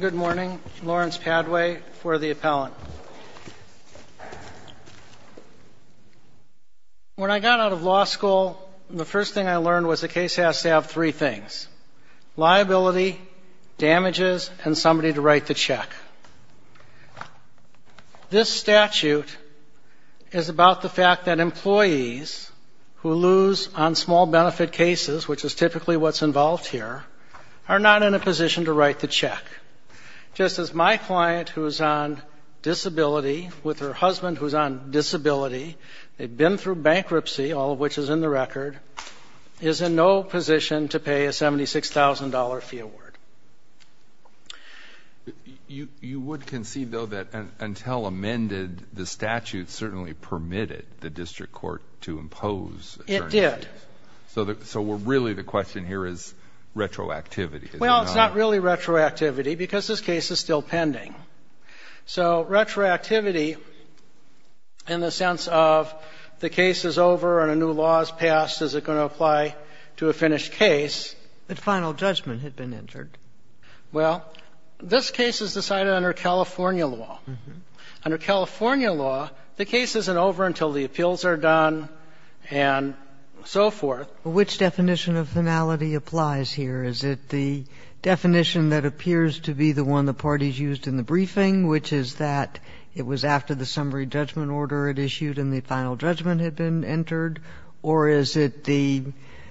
Good morning, Lawrence Padway for the appellant. When I got out of law school, the first thing I learned was the case has to have three things, liability, damages, and somebody to write the check. This statute is about the fact that employees who lose on small benefit cases, which is typically what's involved here, are not in a position to write the check. Just as my client who's on disability with her husband who's on disability, they've been through bankruptcy, all of which is in the record, is in no position to pay a $76,000 fee award. You would concede, though, that until amended, the statute certainly permitted the district court to impose certain fees. It did. So really the question here is retroactivity. Well, it's not really retroactivity because this case is still pending. So retroactivity in the sense of the case is over and a new law is passed, is it going to apply to a finished case? But final judgment had been entered. Well, this case is decided under California law. Under California law, the case isn't over until the appeals are done and so forth. Which definition of finality applies here? Is it the definition that appears to be the parties used in the briefing, which is that it was after the summary judgment order had issued and the final judgment had been entered, or is it the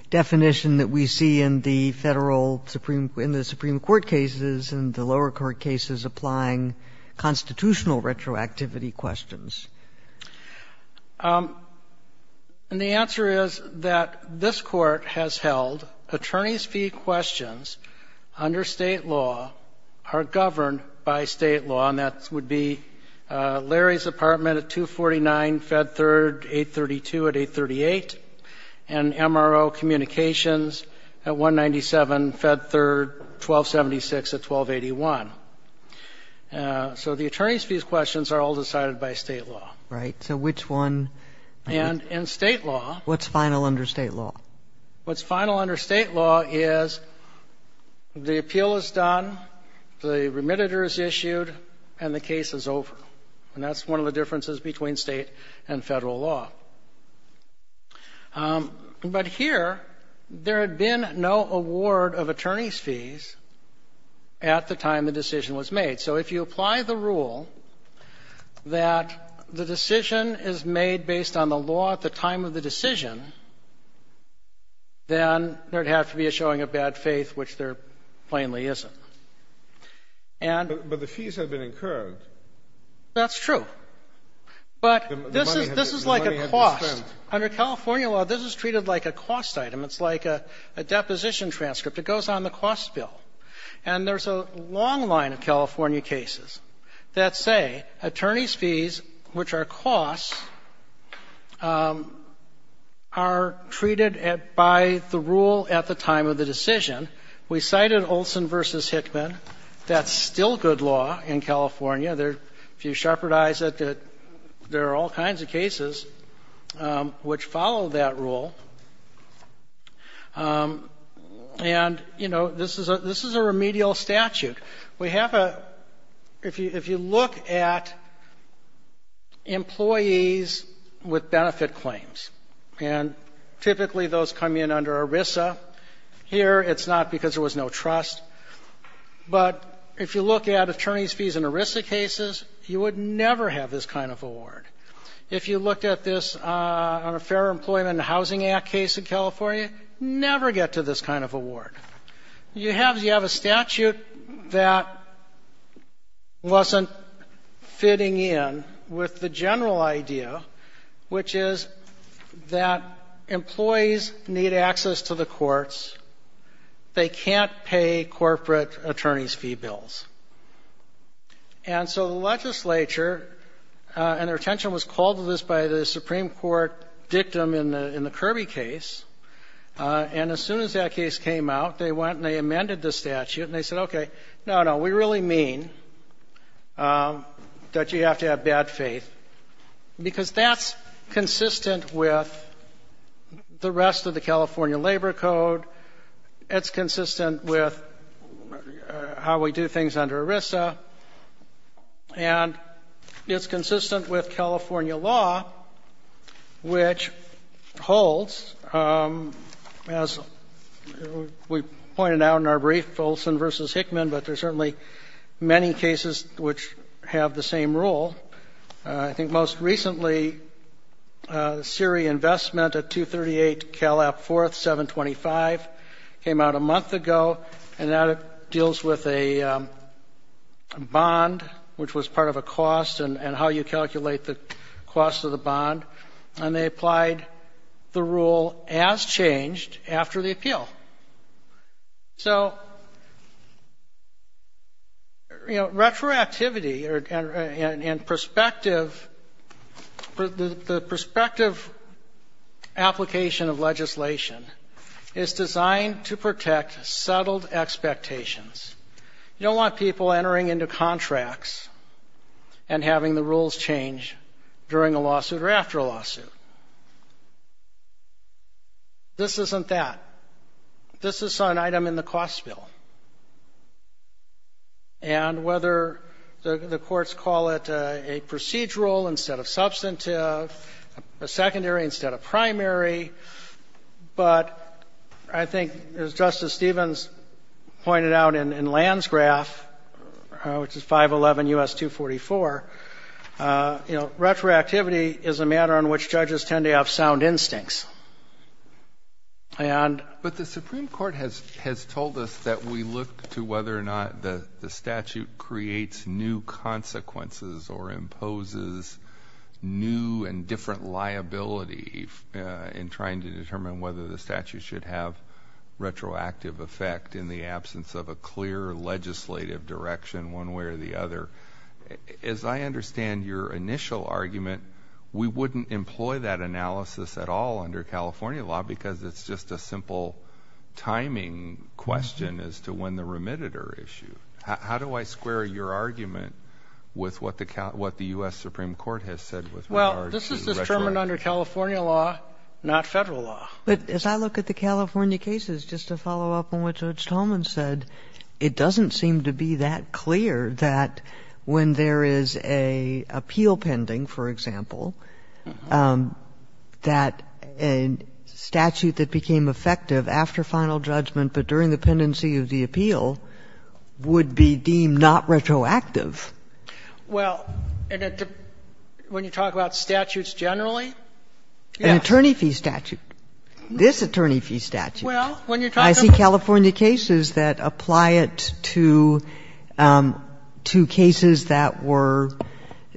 definition that we see in the Federal Supreme — in the Supreme Court cases and the lower court cases applying constitutional retroactivity questions? And the answer is that this Court has held attorneys' fee questions under State law are governed by State law, and that would be Larry's apartment at 249, Fed Third, 832 at 838, and MRO Communications at 197, Fed Third, 1276 at 1281. So the attorneys' fees questions are all decided by State law. Right. So which one — And in State law — What's final under State law? What's final under State law is the appeal is done, the remediator is issued, and the case is over. And that's one of the differences between State and Federal law. But here, there had been no award of attorneys' fees at the time the decision was made. So if you apply the rule that the decision is made based on the law at the time of the decision, then there would have to be a showing of bad faith, which there plainly isn't. And — But the fees have been incurred. That's true. But this is — The money has been spent. This is like a cost. Under California law, this is treated like a cost item. It's like a deposition transcript. It goes on the cost bill. And there's a long line of California cases that say attorneys' fees, which are costs, are treated by the rule at the time of the decision. We cited Olson v. Hickman. That's still good law in California. There — if you shepherdize it, there are all kinds of cases which follow that rule. And, you know, this is a — this is a remedial statute. We have a — if you look at employees with benefit claims, and typically those come in under ERISA, here it's not because there was no trust. But if you look at attorneys' fees in ERISA cases, you would never have this kind of award. If you looked at this on a Fair Employment and Housing Act case in California, never get to this kind of award. And that wasn't fitting in with the general idea, which is that employees need access to the courts. They can't pay corporate attorneys' fee bills. And so the legislature — and their attention was called to this by the Supreme Court dictum in the — in the Kirby case. And as soon as that case came out, they went and they amended the statute. And they said, okay, no, no, we really mean that you have to have bad faith, because that's consistent with the rest of the California Labor Code. It's consistent with how we do things under ERISA. And it's consistent with California law, which holds, as we pointed out, that the — I don't want to go down in our brief, Olson v. Hickman, but there's certainly many cases which have the same rule. I think most recently, the Siri investment at 238 Cal App 4th, 725, came out a month ago, and that deals with a bond, which was part of a cost and how you calculate the cost of the bond. And they applied the rule as changed after the appeal. So, you know, retroactivity and perspective — the prospective application of legislation is designed to protect settled expectations. You don't want people entering into contracts and having the rules change during a lawsuit or after a lawsuit. This isn't that. This is an item in the cost bill. And whether the courts call it a procedural instead of substantive, a secondary instead of primary, but I think, as Justice Stevens pointed out in Land's graph, which is 511 U.S. 244, you know, retroactivity is a matter on which judges tend to have sound instincts. — But the Supreme Court has told us that we look to whether or not the statute creates new consequences or imposes new and different liability in trying to determine whether the statute should have retroactive effect in the absence of a clear legislative direction in one way or the other. As I understand your initial argument, we wouldn't employ that analysis at all under California law, because it's just a simple timing question as to when the remitted are issued. How do I square your argument with what the U.S. Supreme Court has said with regard to retroactivity? — As I look at the California cases, just to follow up on what Judge Tolman said, it doesn't seem to be that clear that when there is an appeal pending, for example, that a statute that became effective after final judgment but during the pendency of the appeal would be deemed not retroactive. — Well, when you talk about statutes generally, yes. — An attorney fee statute, this attorney fee statute. — Well, when you're talking about the... — Well, when you're talking about the statute, yes. — Well, I'm just wondering if you could apply that to cases that were —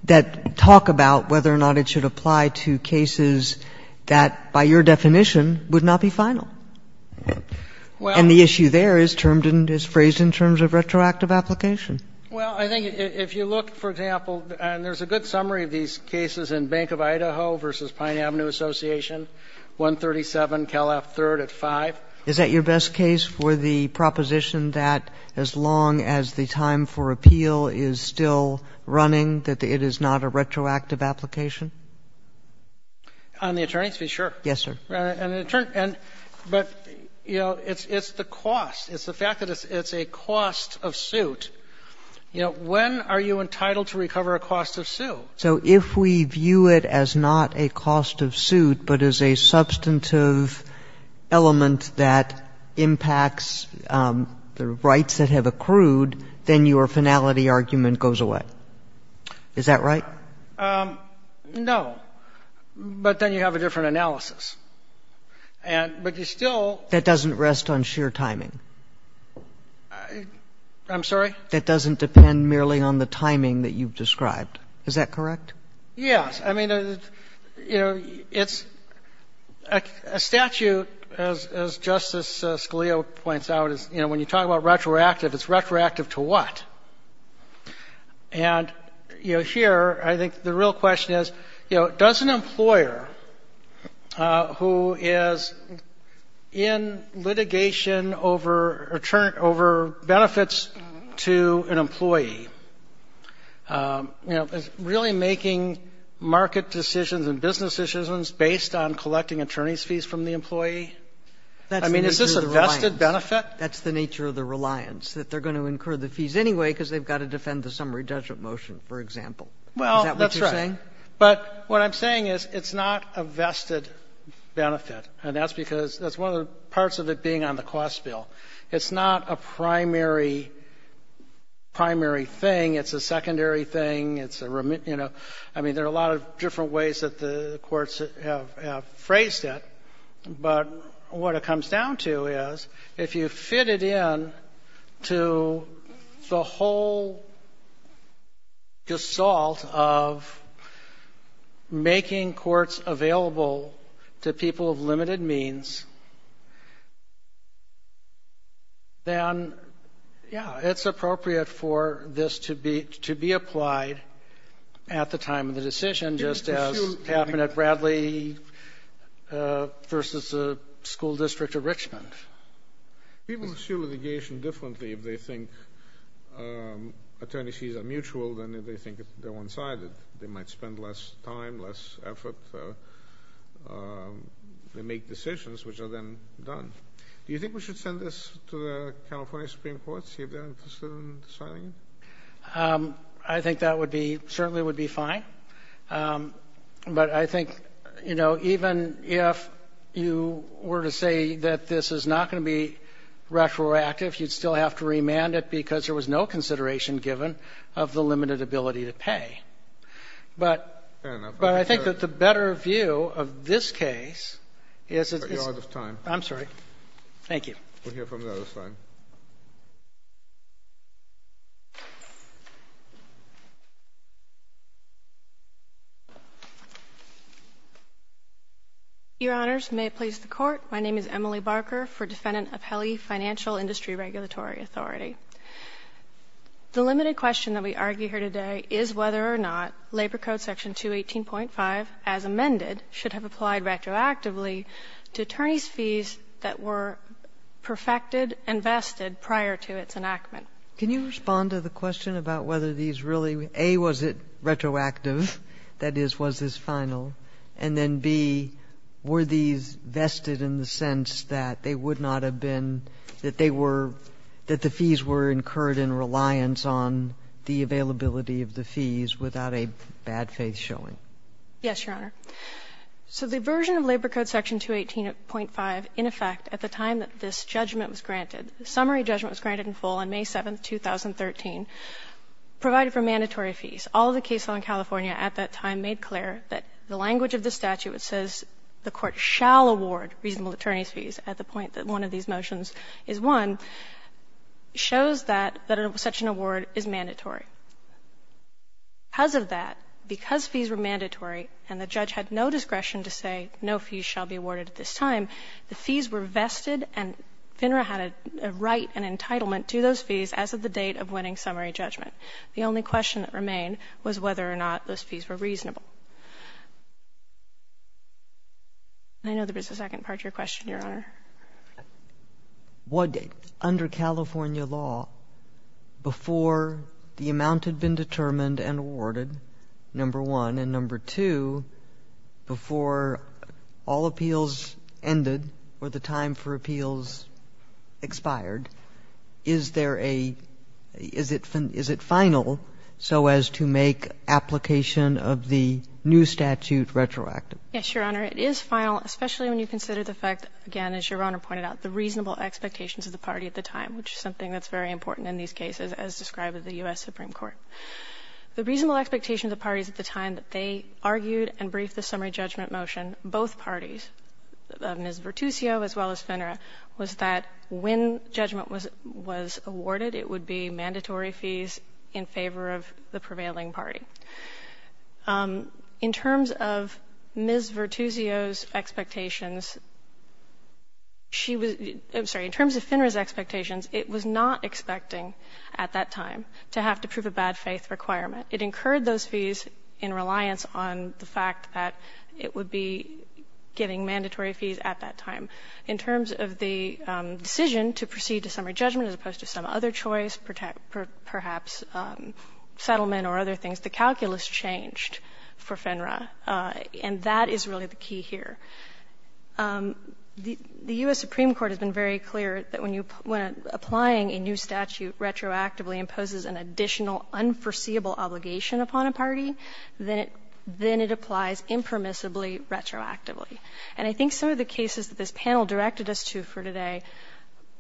that talk about whether or not it should apply to cases that, by your definition, would not be final. And the issue there is termed and is phrased in terms of retroactive application. — Well, I think if you look, for example, and there's a good summary of these cases in Bank of Idaho v. Pine Avenue Association, 137 Cal. F. 3rd at 5. — Is that your best case for the proposition that as long as the time for appeal is still running, that it is not a retroactive application? — On the attorney's fee, sure. — Yes, sir. — But, you know, it's the cost. It's the fact that it's a cost of suit. You know, when are you entitled to recover a cost of suit? — So if we view it as not a cost of suit, but as a substantive element that impacts the rights that have accrued, then your finality argument goes away. Is that right? — No. But then you have a different analysis. But you still— — That doesn't rest on sheer timing. — I'm sorry? — That doesn't depend merely on the timing that you've described. Is that correct? — Yes. I mean, you know, it's a statute, as Justice Scalia points out, is, you know, when you talk about retroactive, it's retroactive to what? And, you know, here, I think the real question is, you know, does an employer who is in litigation over benefits to an employee, you know, really making market decisions and business decisions based on collecting attorney's fees from the employee? I mean, is this a vested benefit? That's the nature of the reliance, that they're going to incur the fees anyway because they've got to defend the summary judgment motion, for example. Is that what you're saying? — Well, that's right. But what I'm saying is it's not a vested benefit. And that's because that's one of the parts of it being on the cost bill. It's not a primary thing. It's a secondary thing. It's a, you know — I mean, there are a lot of different ways that the courts have phrased it, but what it comes down to is if you fit it in to the whole gestalt of making courts available to people of limited means, then, yeah, it's appropriate for this to be applied at the time of the decision, just as happened at Bradley versus the school district of Richmond. — People pursue litigation differently if they think attorney's fees are mutual than if they think they're one-sided. They might spend less time, less effort. They make decisions which are then done. Do you think we should send this to the California Supreme Court to see if they're interested in signing it? — I think that would be — certainly would be fine. But I think, you know, even if you were to say that this is not going to be retroactive, you'd still have to remand it because there was no consideration given of the limited ability to pay. But —— Fair enough. — But I think that the better view of this case is —— You're out of time. — I'm sorry. Thank you. — We'll hear from the other side. — Your Honors, may it please the Court. My name is Emily Barker for defendant of Helley Financial Industry Regulatory Authority. The limited question that we argue here today is whether or not Labor Code Section 218.5, as amended, should have applied retroactively to attorneys' fees that were perfected and vested prior to its enactment. — Can you respond to the question about whether these really, A, was it retroactive, that is, was this final, and then, B, were these vested in the sense that they would not have been — that they were — that the fees were incurred in reliance on the Yes, Your Honor. So the version of Labor Code Section 218.5, in effect, at the time that this judgment was granted, the summary judgment was granted in full on May 7, 2013, provided for mandatory fees. All of the cases in California at that time made clear that the language of the statute which says the Court shall award reasonable attorneys' fees at the point that one of these motions is won shows that — that such an award is mandatory. Because of that, because fees were mandatory and the judge had no discretion to say no fees shall be awarded at this time, the fees were vested and FINRA had a right and entitlement to those fees as of the date of winning summary judgment. The only question that remained was whether or not those fees were reasonable. I know there was a second part to your question, Your Honor. What — under California law, before the amount had been determined and awarded, number one, and number two, before all appeals ended or the time for appeals expired, is there a — is it — is it final so as to make application of the new statute retroactive? Yes, Your Honor. It is final, especially when you consider the fact, again, as Your Honor pointed out, the reasonable expectations of the party at the time, which is something that's very important in these cases as described in the U.S. Supreme Court. The reasonable expectations of the parties at the time that they argued and briefed the summary judgment motion, both parties, Ms. Vertusio as well as FINRA, was that when judgment was — was awarded, it would be mandatory fees in favor of the prevailing party. In terms of Ms. Vertusio's expectations, she was — I'm sorry. In terms of FINRA's expectations, it was not expecting at that time to have to prove a bad-faith requirement. It incurred those fees in reliance on the fact that it would be getting mandatory fees at that time. In terms of the decision to proceed to summary judgment as opposed to some other choice, perhaps, settlement or other things, the calculus changed for FINRA. And that is really the key here. The U.S. Supreme Court has been very clear that when applying a new statute retroactively imposes an additional unforeseeable obligation upon a party, then it applies impermissibly retroactively. And I think some of the cases that this panel directed us to for today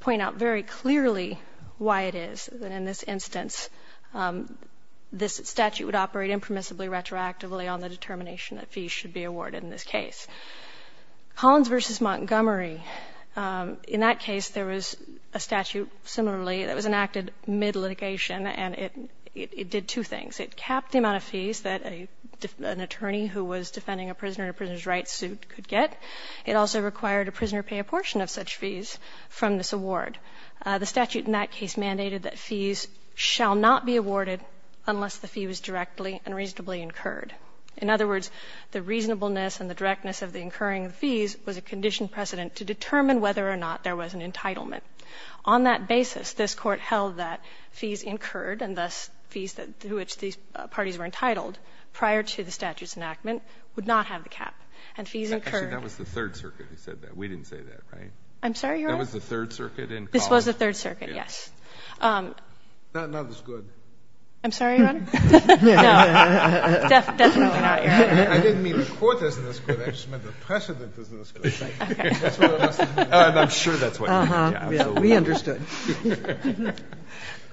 point out very clearly why it is that in this instance this statute would operate impermissibly retroactively on the determination that fees should be awarded in this case. Collins v. Montgomery. In that case, there was a statute similarly that was enacted mid-litigation, and it did two things. It capped the amount of fees that an attorney who was defending a prisoner in a prisoner's rights suit could get. It also required a prisoner pay a portion of such fees from this award. The statute in that case mandated that fees shall not be awarded unless the fee was directly and reasonably incurred. In other words, the reasonableness and the directness of the incurring of the fees was a conditioned precedent to determine whether or not there was an entitlement. On that basis, this Court held that fees incurred, and thus fees through which these parties were entitled prior to the statute's enactment, would not have the cap. And fees incurred. Actually, that was the Third Circuit who said that. We didn't say that, right? I'm sorry, Your Honor? That was the Third Circuit in Collins? This was the Third Circuit, yes. Not as good. I'm sorry, Your Honor? No. Definitely not, Your Honor. I didn't mean the Court isn't as good. I just meant the precedent isn't as good. Okay. That's what it must have meant. And I'm sure that's what he meant. Uh-huh. We understood.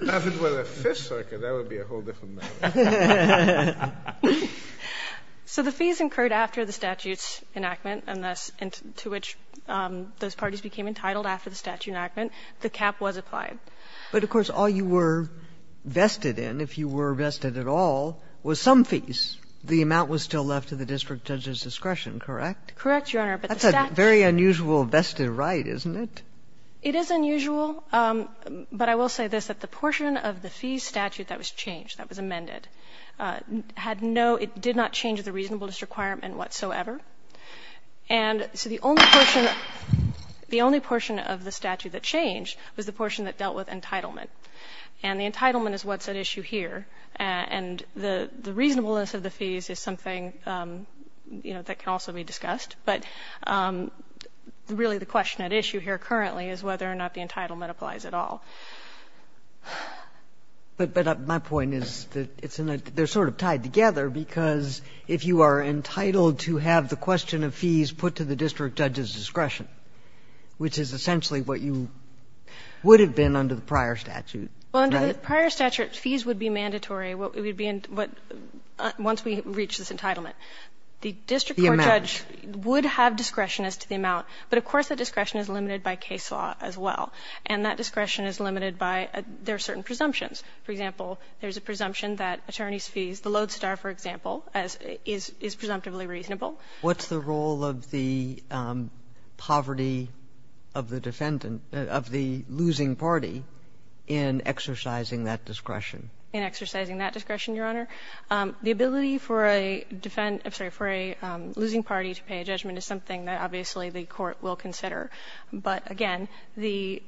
If it were the Fifth Circuit, that would be a whole different matter. So the fees incurred after the statute's enactment, and thus to which those parties became entitled after the statute's enactment, the cap was applied. But, of course, all you were vested in, if you were vested at all, was some fees. The amount was still left to the district judge's discretion, correct? Correct, Your Honor, but the statute. That's a very unusual vested right, isn't it? It is unusual, but I will say this, that the portion of the fees statute that was changed, that was amended, had no — it did not change the reasonableness requirement whatsoever. And so the only portion of the statute that changed was the portion that dealt with entitlement. And the entitlement is what's at issue here. And the reasonableness of the fees is something, you know, that can also be discussed. But really the question at issue here currently is whether or not the entitlement applies at all. But my point is that it's in a — they're sort of tied together because if you are entitled to have the question of fees put to the district judge's discretion, which is essentially what you would have been under the prior statute, right? Well, under the prior statute, fees would be mandatory once we reach this entitlement. The district court judge would have discretion as to the amount, but of course the discretion is limited by case law as well. And that discretion is limited by — there are certain presumptions. For example, there's a presumption that attorneys' fees, the Lodestar, for example, is presumptively reasonable. What's the role of the poverty of the defendant — of the losing party in exercising that discretion? In exercising that discretion, Your Honor, the ability for a defendant — I'm sorry, for a losing party to pay a judgment is something that obviously the court will consider. But again, the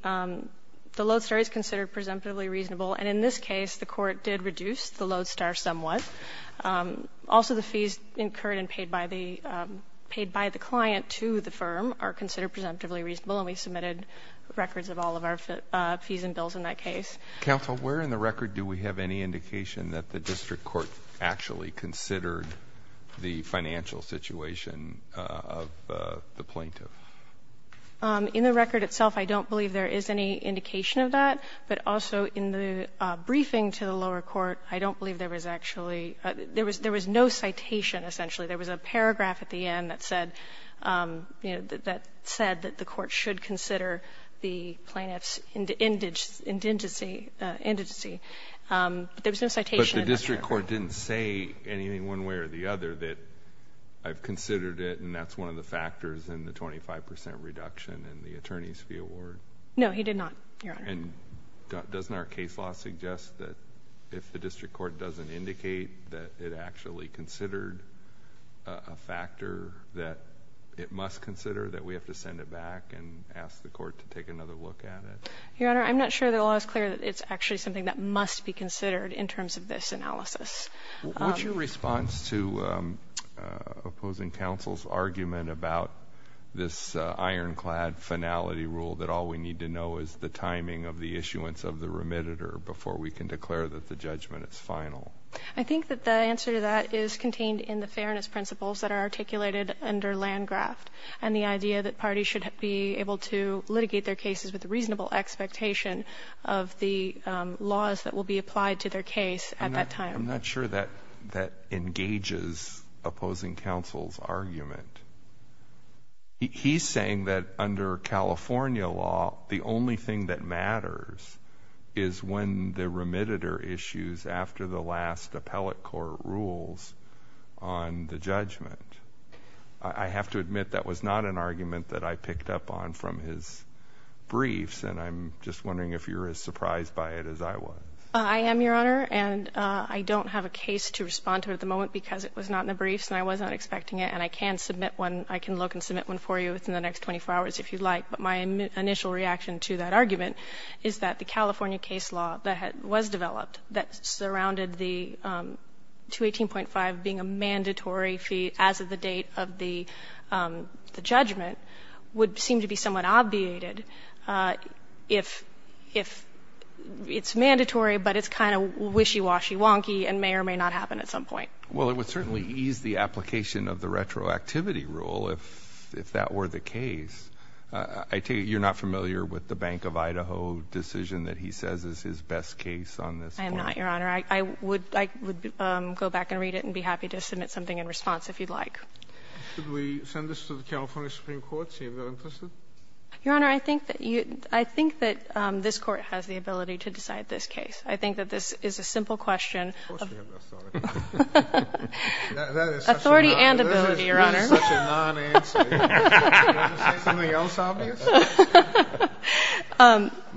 Lodestar is considered presumptively reasonable, and in this case the court did reduce the Lodestar somewhat. Also, the fees incurred and paid by the client to the firm are considered presumptively reasonable, and we submitted records of all of our fees and bills in that case. Counsel, where in the record do we have any indication that the district court actually considered the financial situation of the plaintiff? In the record itself, I don't believe there is any indication of that. But also in the briefing to the lower court, I don't believe there was actually — there was no citation, essentially. There was a paragraph at the end that said, you know, that said that the court should consider the plaintiff's indigency. There was no citation in that record. So the district court didn't say anything one way or the other that I've considered it and that's one of the factors in the 25 percent reduction in the attorney's fee award? No, he did not, Your Honor. And doesn't our case law suggest that if the district court doesn't indicate that it actually considered a factor that it must consider, that we have to send it back and ask the court to take another look at it? Your Honor, I'm not sure the law is clear that it's actually something that must be What's your response to opposing counsel's argument about this ironclad finality rule that all we need to know is the timing of the issuance of the remitted or before we can declare that the judgment is final? I think that the answer to that is contained in the fairness principles that are articulated under Landgraft and the idea that parties should be able to litigate their cases with a reasonable expectation of the laws that will be applied to their case at that time. I'm not sure that engages opposing counsel's argument. He's saying that under California law the only thing that matters is when the remitted or issues after the last appellate court rules on the judgment. I have to admit that was not an argument that I picked up on from his briefs and I'm just wondering if you're as surprised by it as I was. I am, Your Honor. And I don't have a case to respond to at the moment because it was not in the briefs and I wasn't expecting it. And I can submit one. I can look and submit one for you within the next 24 hours if you'd like. But my initial reaction to that argument is that the California case law that was developed that surrounded the 218.5 being a mandatory fee as of the date of the judgment would seem to be somewhat obviated if it's mandatory but it's kind of wishy-washy wonky and may or may not happen at some point. Well, it would certainly ease the application of the retroactivity rule if that were the case. I take it you're not familiar with the Bank of Idaho decision that he says is his best case on this point. I am not, Your Honor. I would go back and read it and be happy to submit something in response if you'd like. Should we send this to the California Supreme Court to see if they're interested? Your Honor, I think that this Court has the ability to decide this case. I think that this is a simple question of authority and ability, Your Honor. That is such a non-answer. Do you want to say something else obvious?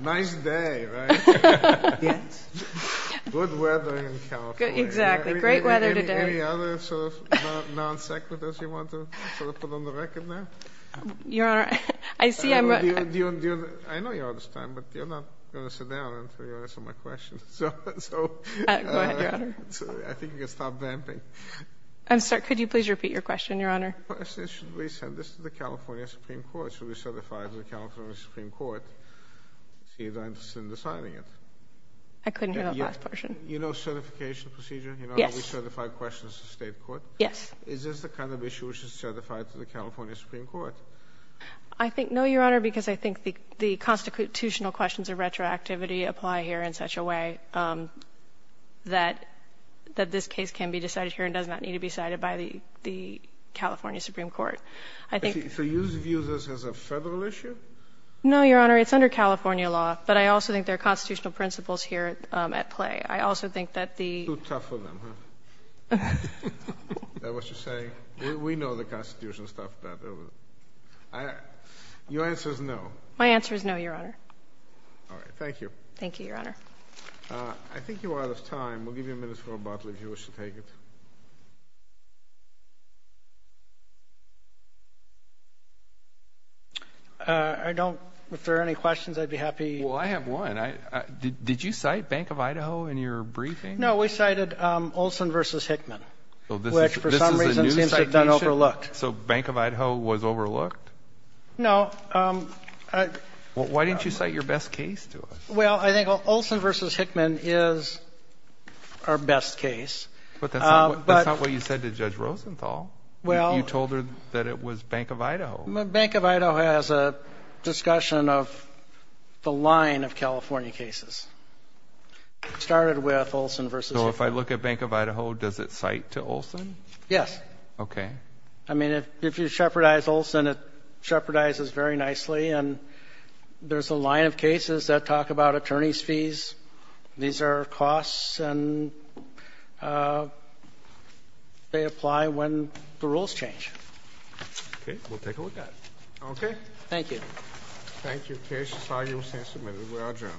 Nice day, right? Yes. Good weather in California. Exactly. Great weather today. Any other sort of non-sequiturs you want to sort of put on the record now? Your Honor, I see I'm— I know you're out of time, but you're not going to sit down until you answer my question, so— Go ahead, Your Honor. I think you can stop damping. I'm sorry, could you please repeat your question, Your Honor? Should we send this to the California Supreme Court? Should we certify it to the California Supreme Court, see if they're interested in deciding it? I couldn't hear that last portion. You know certification procedure? Yes. You know how we certify questions to state court? Yes. Is this the kind of issue which is certified to the California Supreme Court? I think—no, Your Honor, because I think the constitutional questions of retroactivity apply here in such a way that this case can be decided here and does not need to be decided by the California Supreme Court. I think— So you view this as a Federal issue? No, Your Honor, it's under California law, but I also think there are constitutional principles here at play. I also think that the— You're too tough on them, huh? That's what you're saying? We know the constitutional stuff. Your answer is no. My answer is no, Your Honor. All right, thank you. Thank you, Your Honor. I think you are out of time. We'll give you a minute for a bottle if you wish to take it. I don't—if there are any questions, I'd be happy— Well, I have one. Did you cite Bank of Idaho in your briefing? No, we cited Olson v. Hickman, which for some reason seems to have been overlooked. So Bank of Idaho was overlooked? No. Why didn't you cite your best case to us? Well, I think Olson v. Hickman is our best case. But that's not what you said to Judge Rosenthal. Well— You told her that it was Bank of Idaho. Bank of Idaho has a discussion of the line of California cases. It started with Olson v. Hickman. So if I look at Bank of Idaho, does it cite to Olson? Yes. Okay. I mean, if you shepherdize Olson, it shepherdizes very nicely. And there's a line of cases that talk about attorney's fees. These are costs, and they apply when the rules change. Okay, we'll take a look at it. Okay. Thank you. Thank you. The case is filed. You will stand submitted. We will adjourn.